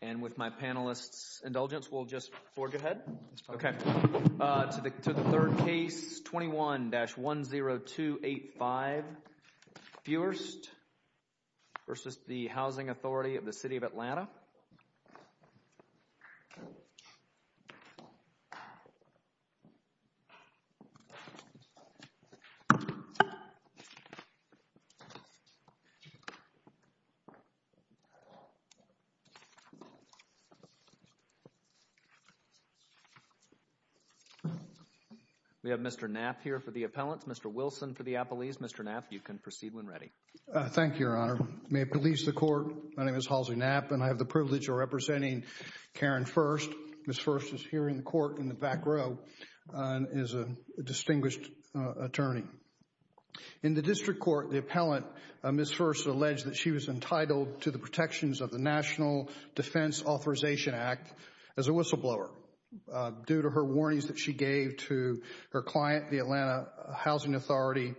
And with my panelist's indulgence, we'll just forge ahead to the third case, 21-10285 Fuerst v. The Housing Authority of the City of Atlanta. We have Mr. Knapp here for the appellants, Mr. Wilson for the appellees. Mr. Knapp, you can proceed when ready. Thank you, Your Honor. May it please the Court, my name is Halsey Knapp and I have the privilege of representing Karen Fuerst. Ms. Fuerst is here in the court in the back row and is a distinguished attorney. In the district court, the appellant, Ms. Fuerst, alleged that she was entitled to the protections of the National Defense Authorization Act as a whistleblower due to her warnings that she gave to her client, the Atlanta Housing Authority,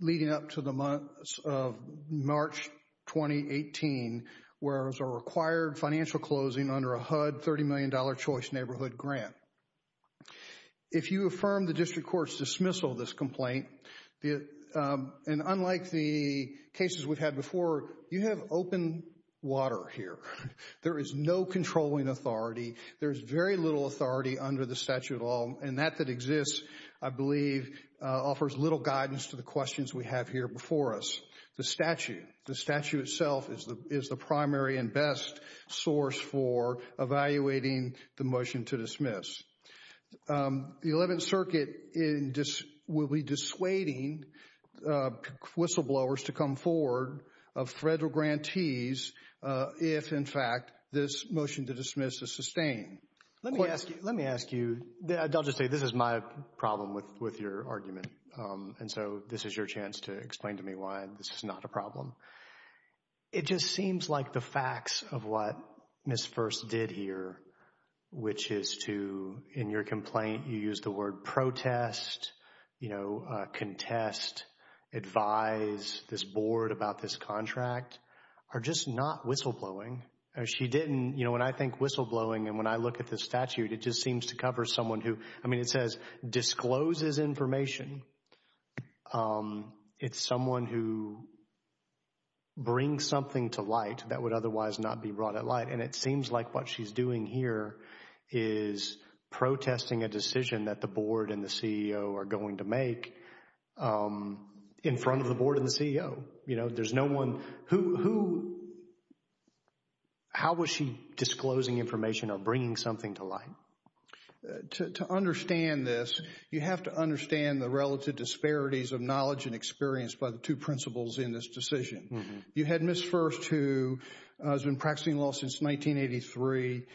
leading up to the months of March 2018, whereas a required financial closing under a HUD $30 million choice neighborhood grant. If you affirm the district court's dismissal of this complaint, and unlike the cases we've had before, you have open water here. There is no controlling authority, there is very little authority under the statute at all, and that that exists, I believe, offers little guidance to the questions we have here before us. The statute itself is the primary and best source for evaluating the motion to dismiss. The 11th Circuit will be dissuading whistleblowers to come forward of federal grantees if, in fact, this motion to dismiss is sustained. Let me ask you, let me ask you, I'll just say this is my problem with with your argument, and so this is your chance to explain to me why this is not a problem. It just seems like the facts of what Ms. Furst did here, which is to, in your complaint, you used the word protest, you know, contest, advise this board about this contract, are just not whistleblowing. She didn't, you know, and I think whistleblowing, and when I look at the statute, it just seems to cover someone who, I mean, it says discloses information, it's someone who brings something to light that would otherwise not be brought at light, and it seems like what she's doing here is protesting a decision that the board and the CEO are going to make in front of the board and the CEO, you know, there's no one, who, who, how was she disclosing information or bringing something to light? To understand this, you have to understand the relative disparities of knowledge and experience by the two principles in this decision. You had Ms. Furst, who has been practicing law since 1983,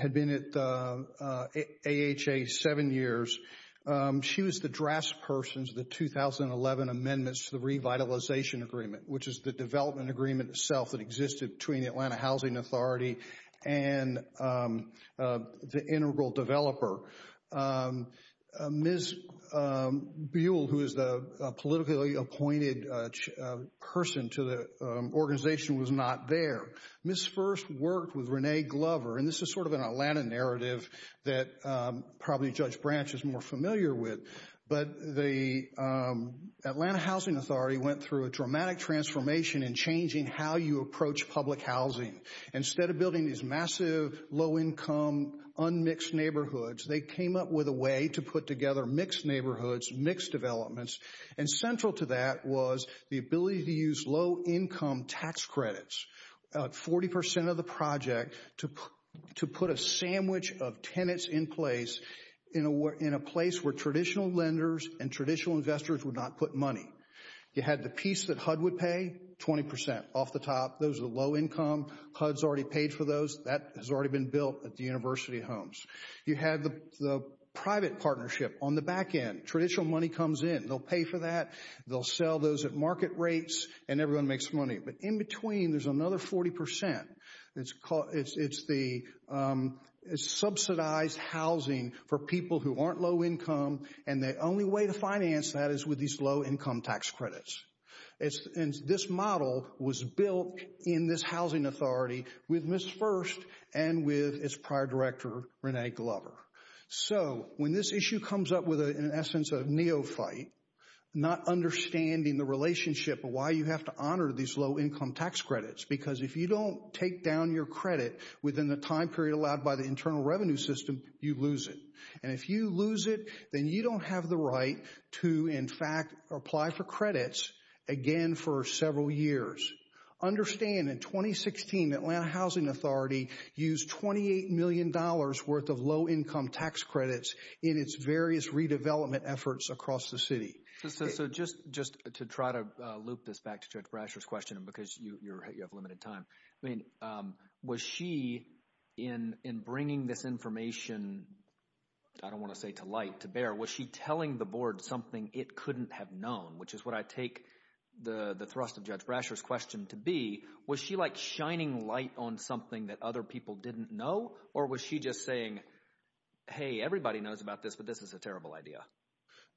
had been at AHA seven years. She was the draftsperson to the 2011 amendments to the revitalization agreement, which is the development agreement itself that existed between the Atlanta Housing Authority and the integral developer. Ms. Buell, who is the politically appointed person to the organization, was not there. Ms. Furst worked with Renee Glover, and this is sort of an Atlanta narrative that probably Judge Branch is more familiar with, but the Atlanta Housing Authority went through a dramatic transformation in changing how you approach public housing. Instead of building these massive, low-income, unmixed neighborhoods, they came up with a way to put together mixed neighborhoods, mixed developments, and central to that was the ability to use low-income tax credits. They took about 40% of the project to put a sandwich of tenants in place in a place where traditional lenders and traditional investors would not put money. You had the piece that HUD would pay, 20% off the top, those are the low-income, HUD's already paid for those, that has already been built at the University Homes. You had the private partnership on the back end, traditional money comes in, they'll pay for that, they'll sell those at market rates, and everyone makes money. But in between, there's another 40%. It's the subsidized housing for people who aren't low-income, and the only way to finance that is with these low-income tax credits. This model was built in this housing authority with Ms. Furst and with its prior director, Renee Glover. So, when this issue comes up with, in essence, a neophyte, not understanding the relationship of why you have to honor these low-income tax credits, because if you don't take down your credit within the time period allowed by the Internal Revenue System, you lose it. And if you lose it, then you don't have the right to, in fact, apply for credits again for several years. Understand, in 2016, the Atlanta Housing Authority used $28 million worth of low-income tax credits in its various redevelopment efforts across the city. So, just to try to loop this back to Judge Brasher's question, because you have limited time, I mean, was she, in bringing this information, I don't want to say to light, to bear, was she telling the board something it couldn't have known? Which is what I take the thrust of Judge Brasher's question to be. Was she, like, shining light on something that other people didn't know? Or was she just saying, hey, everybody knows about this, but this is a terrible idea?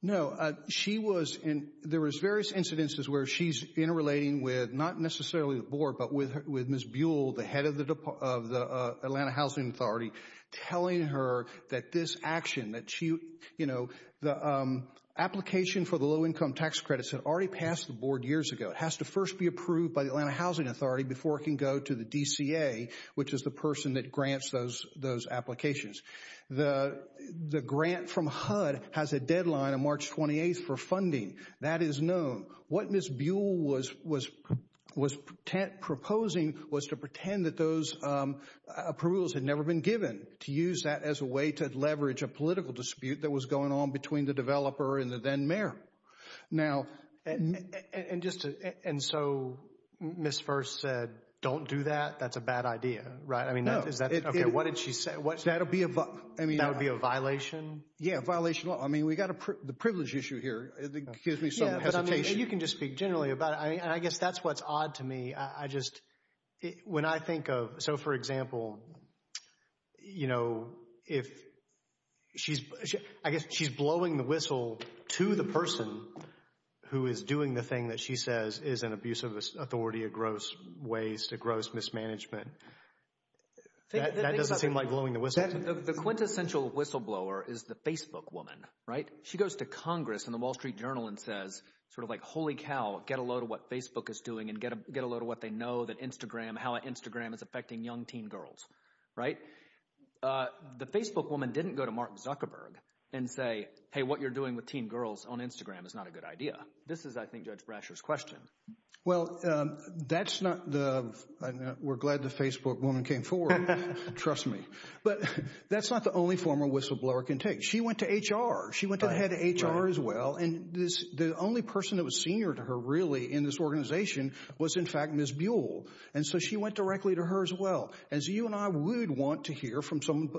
No, she was in, there was various incidences where she's interrelating with, not necessarily the board, but with Ms. Buell, the head of the Atlanta Housing Authority, telling her that this action, that she, you know, the application for the low-income tax credits had already passed the board years ago. It has to first be approved by the Atlanta Housing Authority before it can go to the DCA, which is the person that grants those applications. The grant from HUD has a deadline of March 28th for funding. That is known. What Ms. Buell was proposing was to pretend that those approvals had never been given, to use that as a way to leverage a political dispute that was going on between the developer and the then-mayor. Now, and just to, and so Ms. First said, don't do that, that's a bad idea, right? I mean, is that, okay, what did she say? That would be a violation. Yeah, a violation of law. I mean, we've got the privilege issue here. It gives me some hesitation. You can just speak generally about it. I mean, and I guess that's what's odd to me. I just, when I think of, so for example, you know, if she's, I guess she's blowing the whistle to the person who is doing the thing that she says is an abuse of authority, a gross waste, a gross mismanagement. That doesn't seem like blowing the whistle. The quintessential whistleblower is the Facebook woman, right? She goes to Congress and the Wall Street Journal and says, sort of like, holy cow, get a load of what Facebook is doing and get a load of what they know that Instagram, how Instagram is affecting young teen girls, right? The Facebook woman didn't go to Mark Zuckerberg and say, hey, what you're doing with teen girls on Instagram is not a good idea. This is, I think, Judge Brasher's question. Well, that's not the, we're glad the Facebook woman came forward, trust me. But that's not the only form a whistleblower can take. She went to HR. She went to the head of HR as well. And the only person that was senior to her, really, in this organization was, in fact, Ms. Buell. And so she went directly to her as well. And so you and I would want to hear from some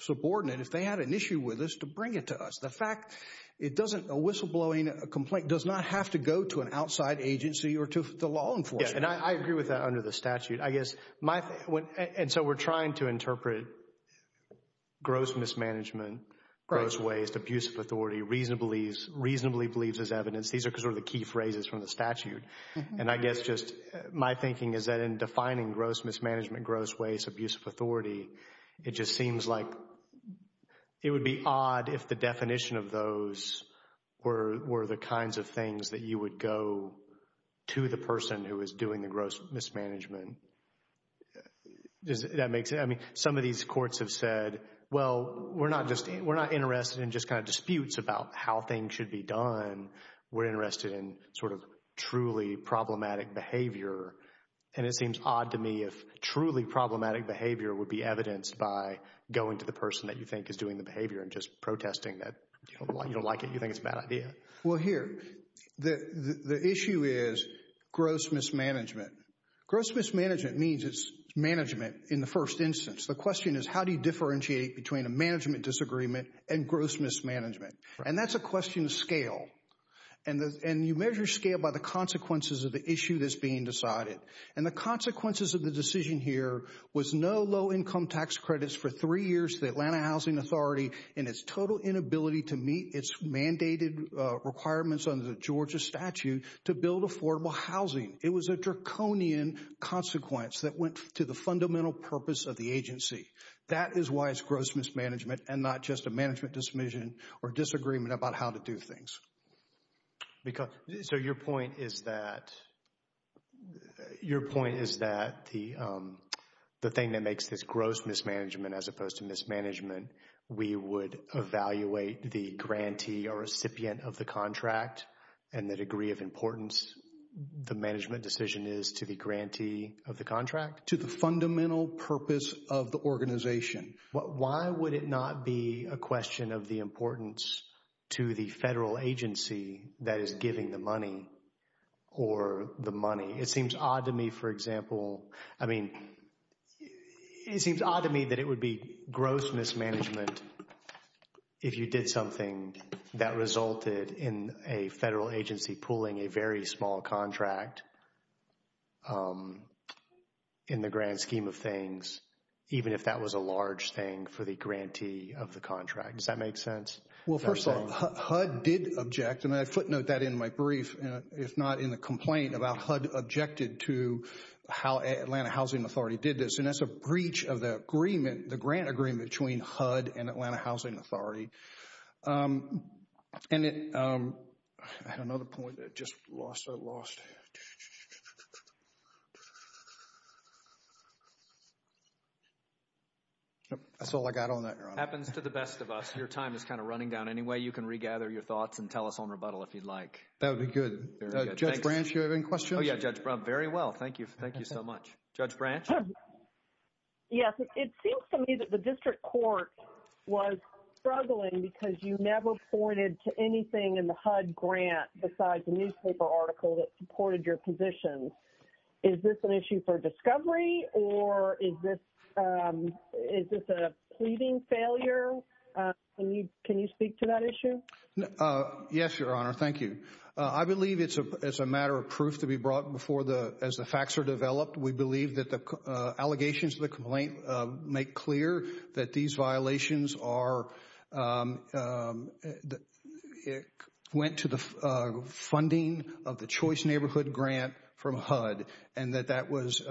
subordinate, if they had an issue with us, to bring it to us. The fact, it doesn't, a whistleblowing complaint does not have to go to an outside agency or to the law enforcement. Yeah, and I agree with that under the statute. I guess my, and so we're trying to interpret gross mismanagement, gross waste, abuse of reasonably believes as evidence. These are sort of the key phrases from the statute. And I guess just my thinking is that in defining gross mismanagement, gross waste, abuse of authority, it just seems like it would be odd if the definition of those were the kinds of things that you would go to the person who is doing the gross mismanagement. That makes it, I mean, some of these courts have said, well, we're not just, we're not interested in what needs to be done. We're interested in sort of truly problematic behavior. And it seems odd to me if truly problematic behavior would be evidenced by going to the person that you think is doing the behavior and just protesting that you don't like it. You think it's a bad idea. Well, here, the issue is gross mismanagement. Gross mismanagement means it's management in the first instance. The question is, how do you differentiate between a management disagreement and gross mismanagement? And that's a question of scale. And you measure scale by the consequences of the issue that's being decided. And the consequences of the decision here was no low income tax credits for three years to the Atlanta Housing Authority and its total inability to meet its mandated requirements under the Georgia statute to build affordable housing. It was a draconian consequence that went to the fundamental purpose of the agency. That is why it's gross mismanagement and not just a management dismission or disagreement about how to do things. So your point is that, your point is that the thing that makes this gross mismanagement as opposed to mismanagement, we would evaluate the grantee or recipient of the contract and the degree of importance the management decision is to the grantee of the contract? To the fundamental purpose of the organization. Why would it not be a question of the importance to the federal agency that is giving the money or the money? It seems odd to me, for example, I mean, it seems odd to me that it would be gross mismanagement if you did something that resulted in a federal agency pulling a very small contract in the grand scheme of things, even if that was a large thing for the grantee of the contract. Does that make sense? Well, first of all, HUD did object, and I footnote that in my brief, if not in the complaint about HUD objected to how Atlanta Housing Authority did this. And that's a breach of the agreement, the grant agreement between HUD and Atlanta Housing Authority. And I had another point that I just lost, I lost. That's all I got on that, Your Honor. Happens to the best of us. Your time is kind of running down anyway. You can regather your thoughts and tell us on rebuttal if you'd like. That would be good. Judge Branch, you have any questions? Oh, yeah, Judge Branch, very well. Thank you. Thank you so much. Judge Branch? Yes, it seems to me that the district court was struggling because you never pointed to anything in the HUD grant besides the newspaper article that supported your position. Is this an issue for discovery, or is this a pleading failure? Can you speak to that issue? Yes, Your Honor, thank you. I believe it's a matter of proof to be brought before the, as the facts are developed, we allegations to the complaint make clear that these violations are, it went to the funding of the Choice Neighborhood Grant from HUD. And that that was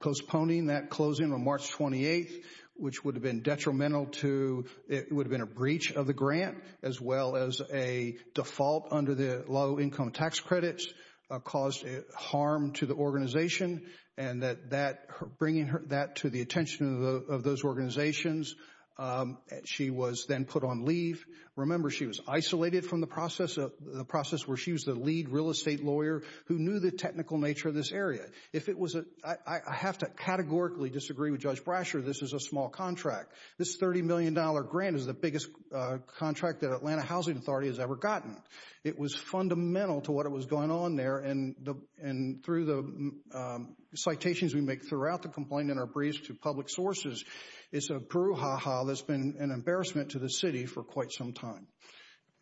postponing that closing on March 28th, which would have been detrimental to, it would have been a breach of the grant, as well as a default under the low income tax credits caused harm to the organization. And that bringing that to the attention of those organizations, she was then put on leave. Remember, she was isolated from the process, the process where she was the lead real estate lawyer who knew the technical nature of this area. If it was a, I have to categorically disagree with Judge Brasher, this is a small contract. This $30 million grant is the biggest contract that Atlanta Housing Authority has ever gotten. It was fundamental to what was going on there and through the citations we make throughout the complaint in our briefs to public sources, it's a brouhaha that's been an embarrassment to the city for quite some time.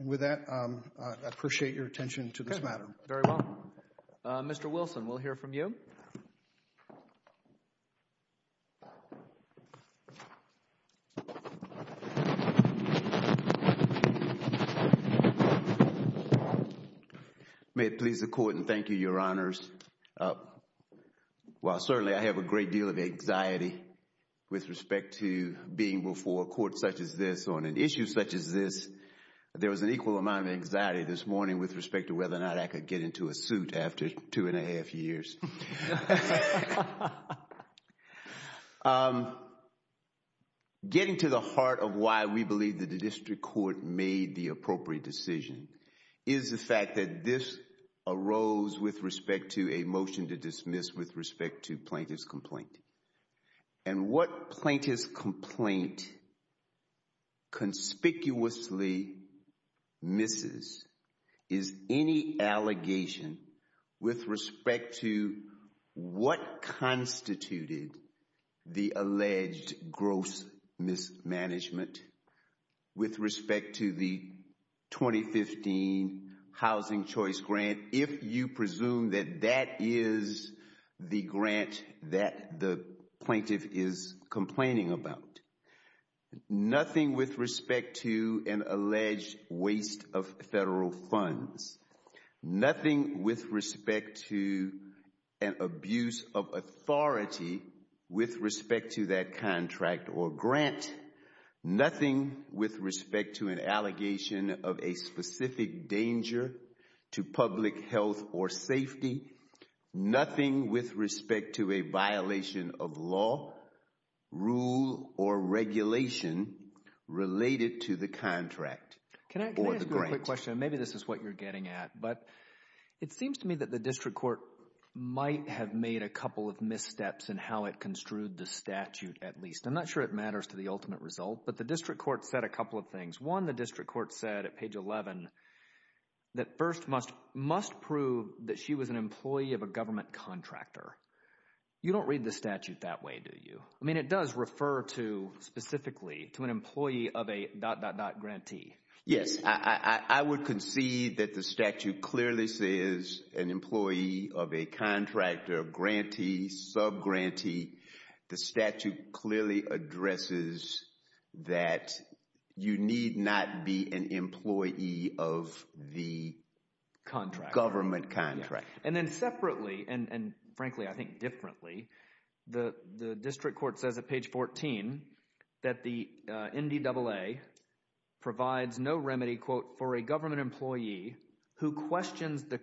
And with that, I appreciate your attention to this matter. Very well. Mr. Wilson, we'll hear from you. May it please the Court and thank you, Your Honors. While certainly I have a great deal of anxiety with respect to being before a court such as this on an issue such as this, there was an equal amount of anxiety this morning with respect to whether or not I could get into a suit after two and a half years. Getting to the heart of why we believe that the district court made the appropriate decision is the fact that this arose with respect to a motion to dismiss with respect to plaintiff's complaint. And what plaintiff's complaint conspicuously misses is any allegation with respect to what constituted the alleged gross mismanagement with respect to the 2015 housing choice grant. If you presume that that is the grant that the plaintiff is complaining about, nothing with respect to an alleged waste of federal funds, nothing with respect to an abuse of authority with respect to that contract or grant, nothing with respect to an allegation of a specific danger to public health or safety, nothing with respect to a violation of law, rule, or regulation related to the contract or the grant. Can I ask you a quick question? Maybe this is what you're getting at. But it seems to me that the district court might have made a couple of missteps in how it construed the statute at least. I'm not sure it matters to the ultimate result, but the district court said a couple of things. One, the district court said at page 11 that first must prove that she was an employee of a government contractor. You don't read the statute that way, do you? I mean, it does refer to specifically to an employee of a dot, dot, dot, grantee. Yes, I would concede that the statute clearly says an employee of a contractor, grantee, subgrantee, the statute clearly addresses that you need not be an employee of the government contractor. And then separately, and frankly, I think differently, the district court says at page 14 that the NDAA provides no remedy, quote, for a government employee who questions the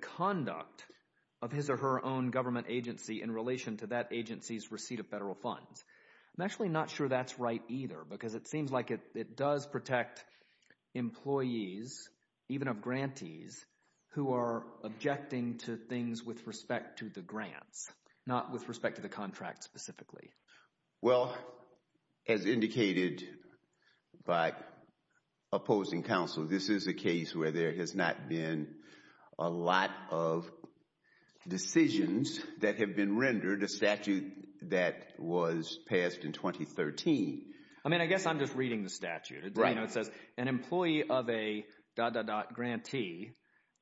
agency's receipt of federal funds. I'm actually not sure that's right either because it seems like it does protect employees, even of grantees, who are objecting to things with respect to the grants, not with respect to the contract specifically. Well, as indicated by opposing counsel, this is a case where there has not been a lot of that was passed in 2013. I mean, I guess I'm just reading the statute. It says an employee of a dot, dot, dot, grantee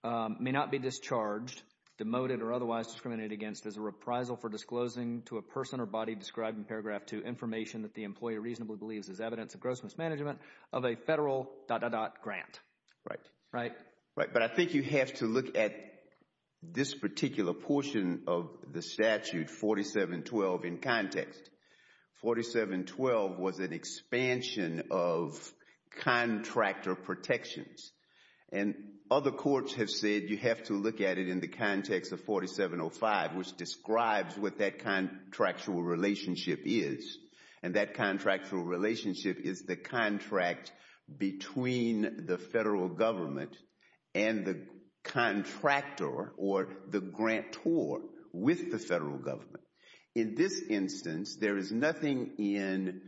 may not be discharged, demoted, or otherwise discriminated against as a reprisal for disclosing to a person or body described in paragraph two information that the employee reasonably believes is evidence of gross mismanagement of a federal dot, dot, dot, grant. Right. Right. But I think you have to look at this particular portion of the statute, 4712, in context. 4712 was an expansion of contractor protections. And other courts have said you have to look at it in the context of 4705, which describes what that contractual relationship is. And that contractual relationship is the contract between the federal government and the contractor or the grantor with the federal government. In this instance, there is nothing in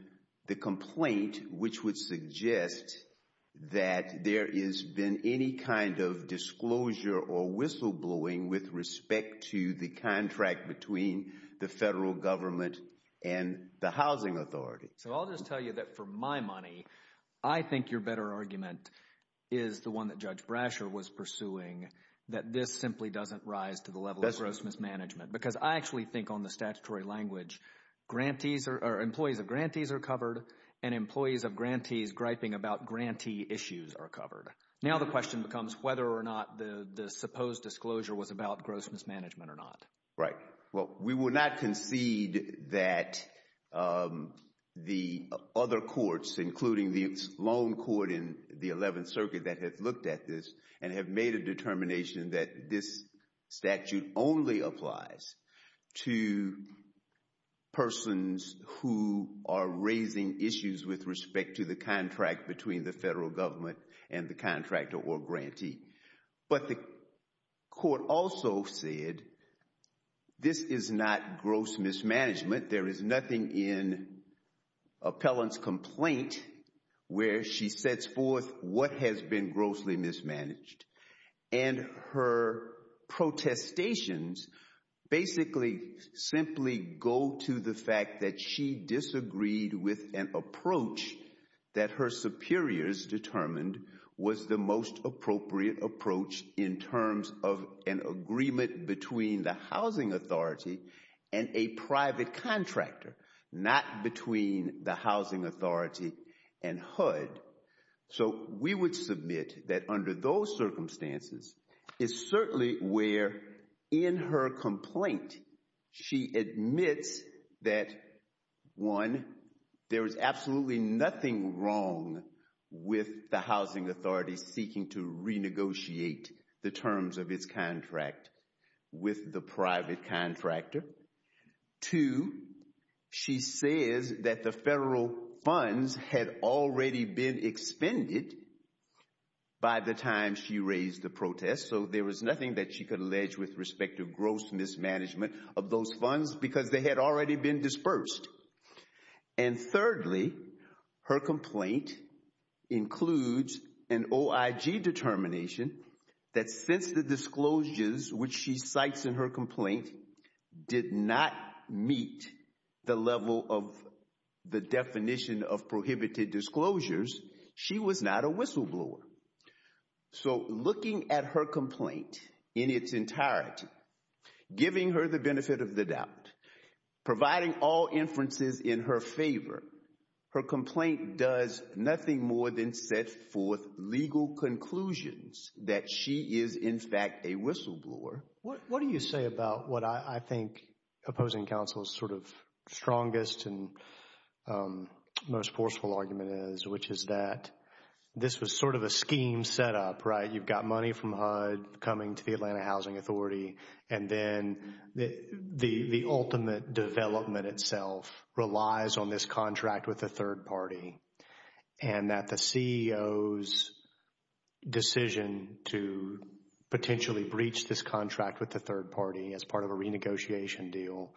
the complaint which would suggest that there has been any kind of disclosure or whistleblowing with respect to the contract between the federal government and the housing authority. So I'll just tell you that for my money, I think your better argument is the one that Judge Brasher was pursuing, that this simply doesn't rise to the level of gross mismanagement. Because I actually think on the statutory language, employees of grantees are covered and employees of grantees griping about grantee issues are covered. Now the question becomes whether or not the supposed disclosure was about gross mismanagement or not. Right. Well, we will not concede that the other courts, including the Sloan Court in the 11th Circuit that has looked at this and have made a determination that this statute only applies to persons who are raising issues with respect to the contract between the federal government and the contractor or grantee. But the court also said this is not gross mismanagement. There is nothing in Appellant's complaint where she sets forth what has been grossly mismanaged. And her protestations basically simply go to the fact that she disagreed with an approach that her superiors determined was the most appropriate approach in terms of an agreement between the housing authority and a private contractor, not between the housing authority and HUD. So we would submit that under those circumstances, it's certainly where in her complaint, she admits that, one, there is absolutely nothing wrong with the housing authority seeking to renegotiate the terms of its contract with the private contractor. Two, she says that the federal funds had already been expended by the time she raised the protest. So there was nothing that she could allege with respect to gross mismanagement of those funds because they had already been dispersed. And thirdly, her complaint includes an OIG determination that since the disclosures which she cites in her complaint did not meet the level of the definition of prohibited disclosures, she was not a whistleblower. So looking at her complaint in its entirety, giving her the benefit of the doubt, providing all inferences in her favor, her complaint does nothing more than set forth legal conclusions that she is, in fact, a whistleblower. What do you say about what I think opposing counsel's sort of strongest and most forceful argument is, which is that this was sort of a scheme set up, right? You've got money from HUD coming to the Atlanta Housing Authority, and then the ultimate development itself relies on this contract with the third party. And that the CEO's decision to potentially breach this contract with the third party as part of a renegotiation deal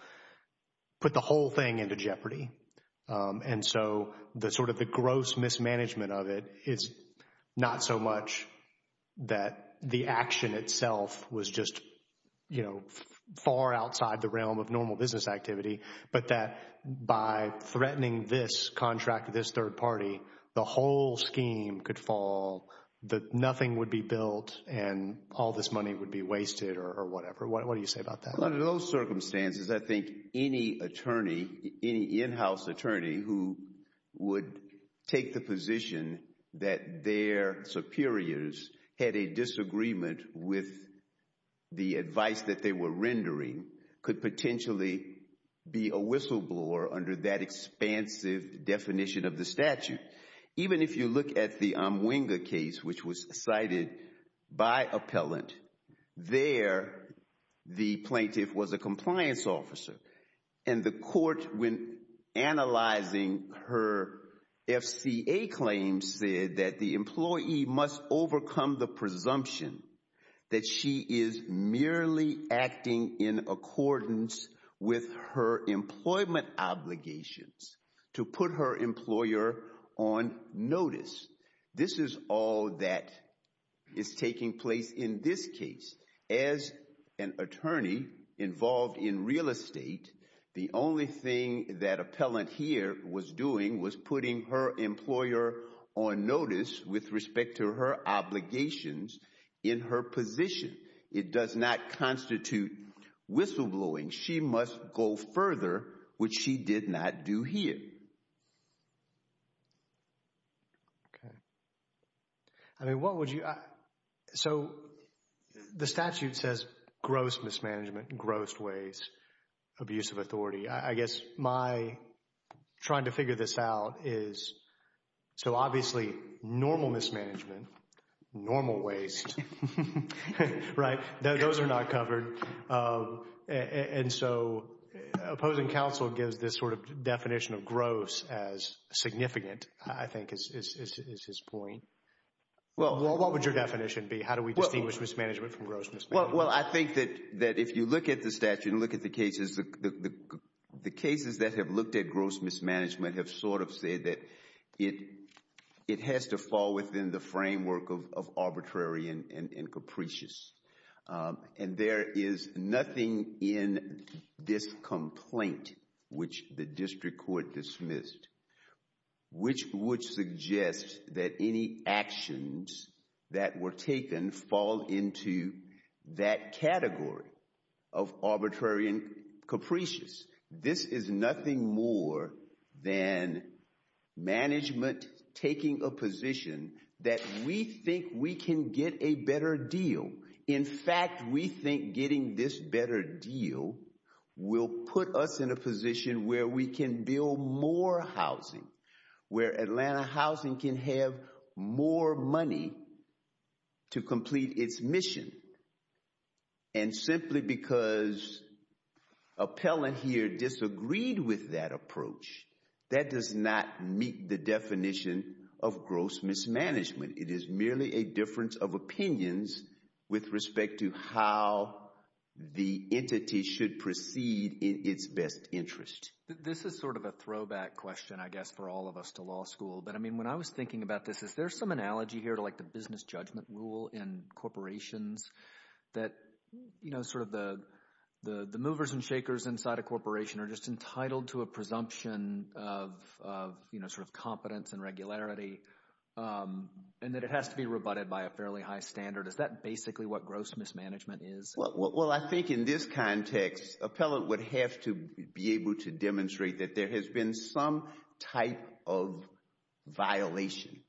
put the whole thing into jeopardy. And so the sort of the gross mismanagement of it is not so much that the action itself was just, you know, far outside the realm of normal business activity, but that by threatening this contract with this third party, the whole scheme could fall, that nothing would be built, and all this money would be wasted or whatever. What do you say about that? Under those circumstances, I think any attorney, any in-house attorney who would take the position that their superiors had a disagreement with the advice that they were rendering could potentially be a whistleblower under that expansive definition of the statute. Even if you look at the Amwinga case, which was cited by appellant, there the plaintiff was a compliance officer, and the court, when analyzing her FCA claims, said that the employee must overcome the presumption that she is merely acting in accordance with her employment obligations to put her employer on notice. This is all that is taking place in this case. As an attorney involved in real estate, the only thing that appellant here was doing was putting her employer on notice with respect to her obligations in her position. It does not constitute whistleblowing. She must go further, which she did not do here. Okay. I mean, what would you, so the statute says gross mismanagement, gross waste, abuse of authority. I guess my trying to figure this out is, so obviously normal mismanagement, normal waste, abuse of authority, gross waste, right? Those are not covered, and so opposing counsel gives this sort of definition of gross as significant, I think, is his point. What would your definition be? How do we distinguish mismanagement from gross mismanagement? Well, I think that if you look at the statute and look at the cases, the cases that have looked at gross mismanagement have sort of said that it has to fall within the framework of arbitrary and capricious, and there is nothing in this complaint, which the district court dismissed, which would suggest that any actions that were taken fall into that This is nothing more than management taking a position that we think we can get a better deal. In fact, we think getting this better deal will put us in a position where we can build more housing, where Atlanta Housing can have more money to complete its mission, and simply because appellant here disagreed with that approach, that does not meet the definition of gross mismanagement. It is merely a difference of opinions with respect to how the entity should proceed in its best interest. This is sort of a throwback question, I guess, for all of us to law school, but I mean, when I was thinking about this, is there some analogy here to like the business judgment rule in that the movers and shakers inside a corporation are just entitled to a presumption of sort of competence and regularity, and that it has to be rebutted by a fairly high standard? Is that basically what gross mismanagement is? Well, I think in this context, appellant would have to be able to demonstrate that there has been some type of violation,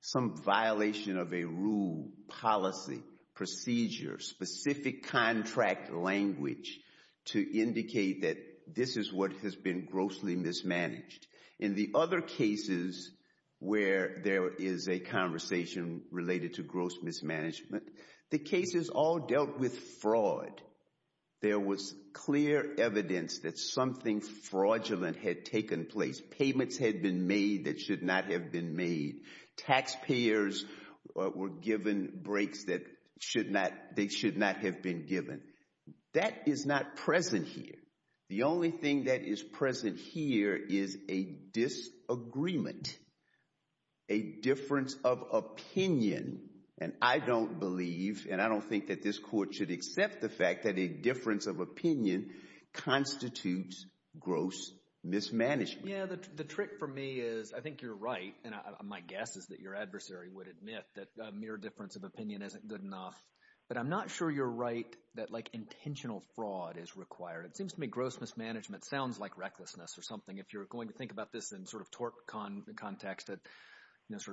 some violation of a rule, policy, procedure, specific contract language to indicate that this is what has been grossly mismanaged. In the other cases where there is a conversation related to gross mismanagement, the cases all dealt with fraud. There was clear evidence that something fraudulent had taken place. Payments had been made that should not have been made. Taxpayers were given breaks that should not, they should not have been given. That is not present here. The only thing that is present here is a disagreement, a difference of opinion, and I don't believe, and I don't think that this court should accept the fact that a difference of opinion constitutes gross mismanagement. The trick for me is, I think you're right, and my guess is that your adversary would admit that a mere difference of opinion isn't good enough, but I'm not sure you're right that intentional fraud is required. It seems to me gross mismanagement sounds like recklessness or something. If you're going to think about this in sort of tort context, that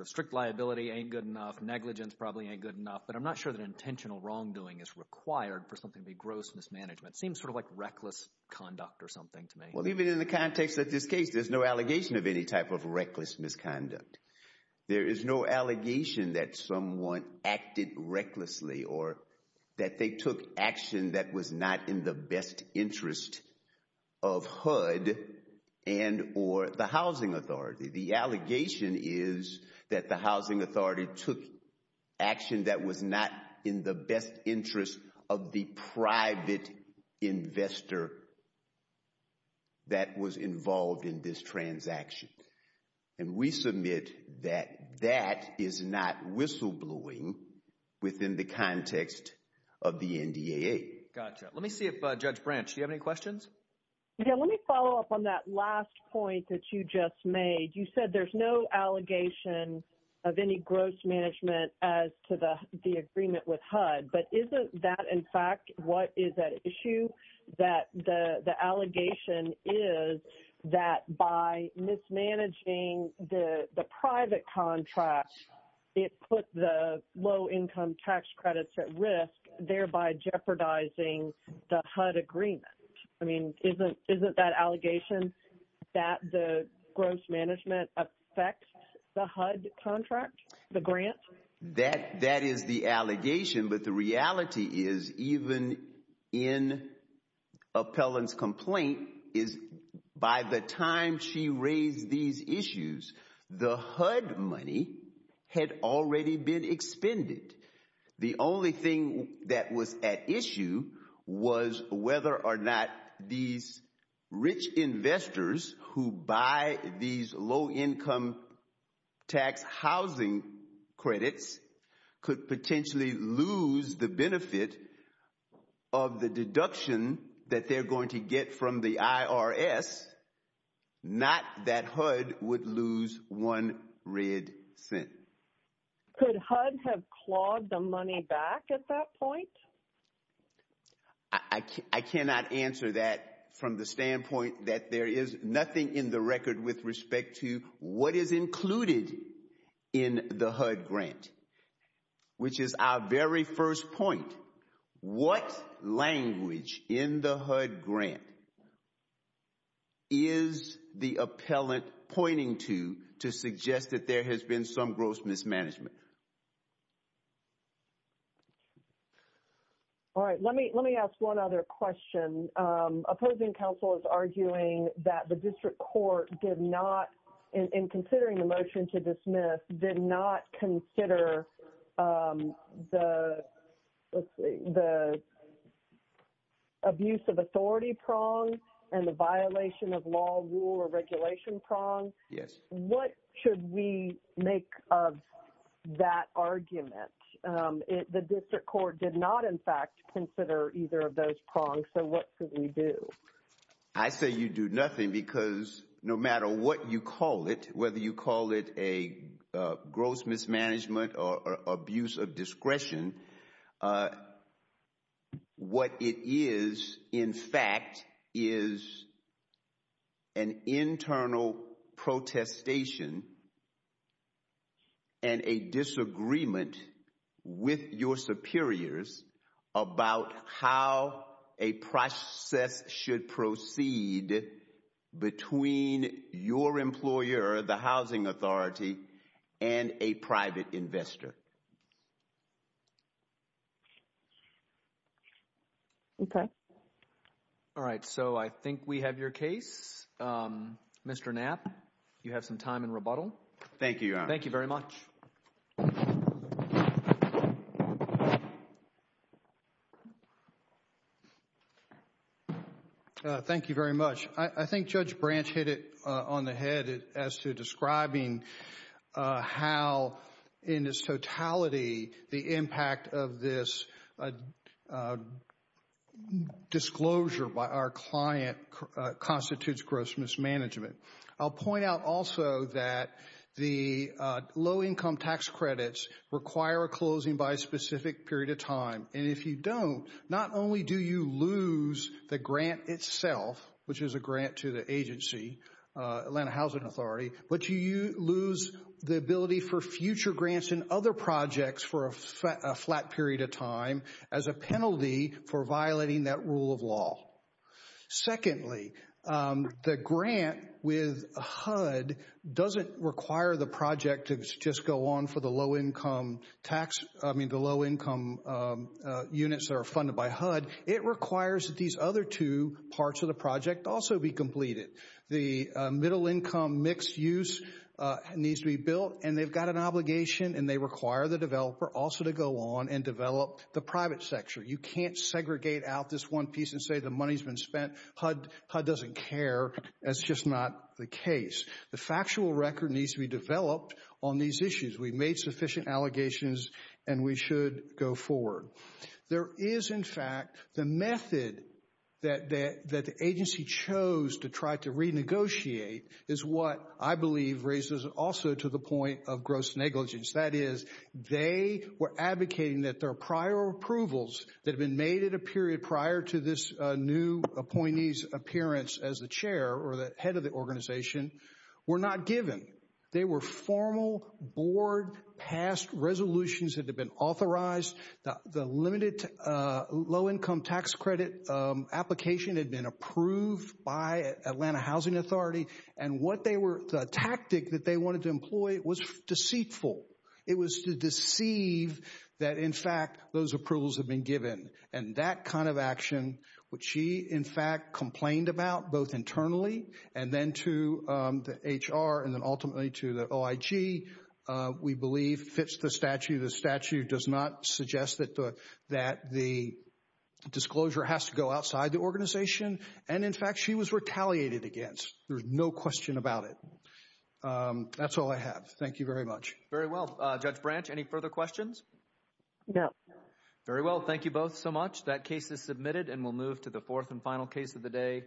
strict liability ain't good enough, negligence probably ain't good enough, but I'm not sure that intentional wrongdoing is required for something to be gross mismanagement. It seems sort of like reckless conduct or something to me. Even in the context of this case, there's no allegation of any type of reckless misconduct. There is no allegation that someone acted recklessly or that they took action that was not in the best interest of HUD and or the housing authority. The allegation is that the housing authority took action that was not in the best interest of the private investor that was involved in this transaction. We submit that that is not whistleblowing within the context of the NDAA. Gotcha. Let me see if Judge Branch, do you have any questions? Yeah, let me follow up on that last point that you just made. You said there's no allegation of any gross management as to the agreement with HUD, but isn't that, in fact, what is at issue? That the allegation is that by mismanaging the private contract, it put the low-income tax credits at risk, thereby jeopardizing the HUD agreement. I mean, isn't that allegation that the gross management affects the HUD contract, the grant? That is the allegation, but the reality is, even in Appellant's complaint, is by the time she raised these issues, the HUD money had already been expended. The only thing that was at issue was whether or not these rich investors who buy these low-income tax housing credits could potentially lose the benefit of the deduction that they're going to get from the IRS, not that HUD would lose one red cent. Could HUD have clawed the money back at that point? I cannot answer that from the standpoint that there is nothing in the record with respect to what is included in the HUD grant, which is our very first point. What language in the HUD grant is the Appellant pointing to, to suggest that there has been some gross mismanagement? All right, let me ask one other question. Opposing counsel is arguing that the district court did not, in considering the motion to dismiss, did not consider the abuse of authority prong and the violation of law, rule, or regulation prong. Yes. What should we make of that argument? The district court did not, in fact, consider either of those prongs, so what should we do? I say you do nothing because no matter what you call it, whether you call it a gross mismanagement or abuse of discretion, what it is, in fact, is an internal protestation and a disagreement with your superiors about how a process should proceed between your employer, the housing authority, and a private investor. Okay. All right, so I think we have your case. Mr. Knapp, you have some time in rebuttal. Thank you, Your Honor. Thank you very much. Thank you very much. I think Judge Branch hit it on the head as to describing how, in its totality, the impact of this disclosure by our client constitutes gross mismanagement. I'll point out also that the low-income tax credits require a closing by a specific period of time, and if you don't, not only do you lose the grant itself, which is a grant to the agency, Atlanta Housing Authority, but you lose the ability for future grants and other projects for a flat period of time as a penalty for violating that rule of law. Secondly, the grant with HUD doesn't require the project to just go on for the low-income tax—I mean, the low-income units that are funded by HUD. It requires that these other two parts of the project also be completed. The middle-income mixed-use needs to be built, and they've got an obligation, and they require the developer also to go on and develop the private sector. You can't segregate out this one piece and say the money's been spent. HUD doesn't care. That's just not the case. The factual record needs to be developed on these issues. We've made sufficient allegations, and we should go forward. There is, in fact, the method that the agency chose to try to renegotiate is what I believe raises also to the point of gross negligence. That is, they were advocating that their prior approvals that had been made at a period prior to this new appointee's appearance as the chair or the head of the organization were not given. They were formal board-passed resolutions that had been authorized. The limited low-income tax credit application had been approved by Atlanta Housing Authority, and the tactic that they wanted to employ was deceitful. It was to deceive that, in fact, those approvals had been given. And that kind of action, which she, in fact, complained about both internally and then to the HR and then ultimately to the OIG, we believe fits the statute. The statute does not suggest that the disclosure has to go outside the organization. And, in fact, she was retaliated against. There's no question about it. That's all I have. Thank you very much. Very well. Judge Branch, any further questions? No. Very well. Thank you both so much. That case is submitted, and we'll move to the fourth and final case of the day.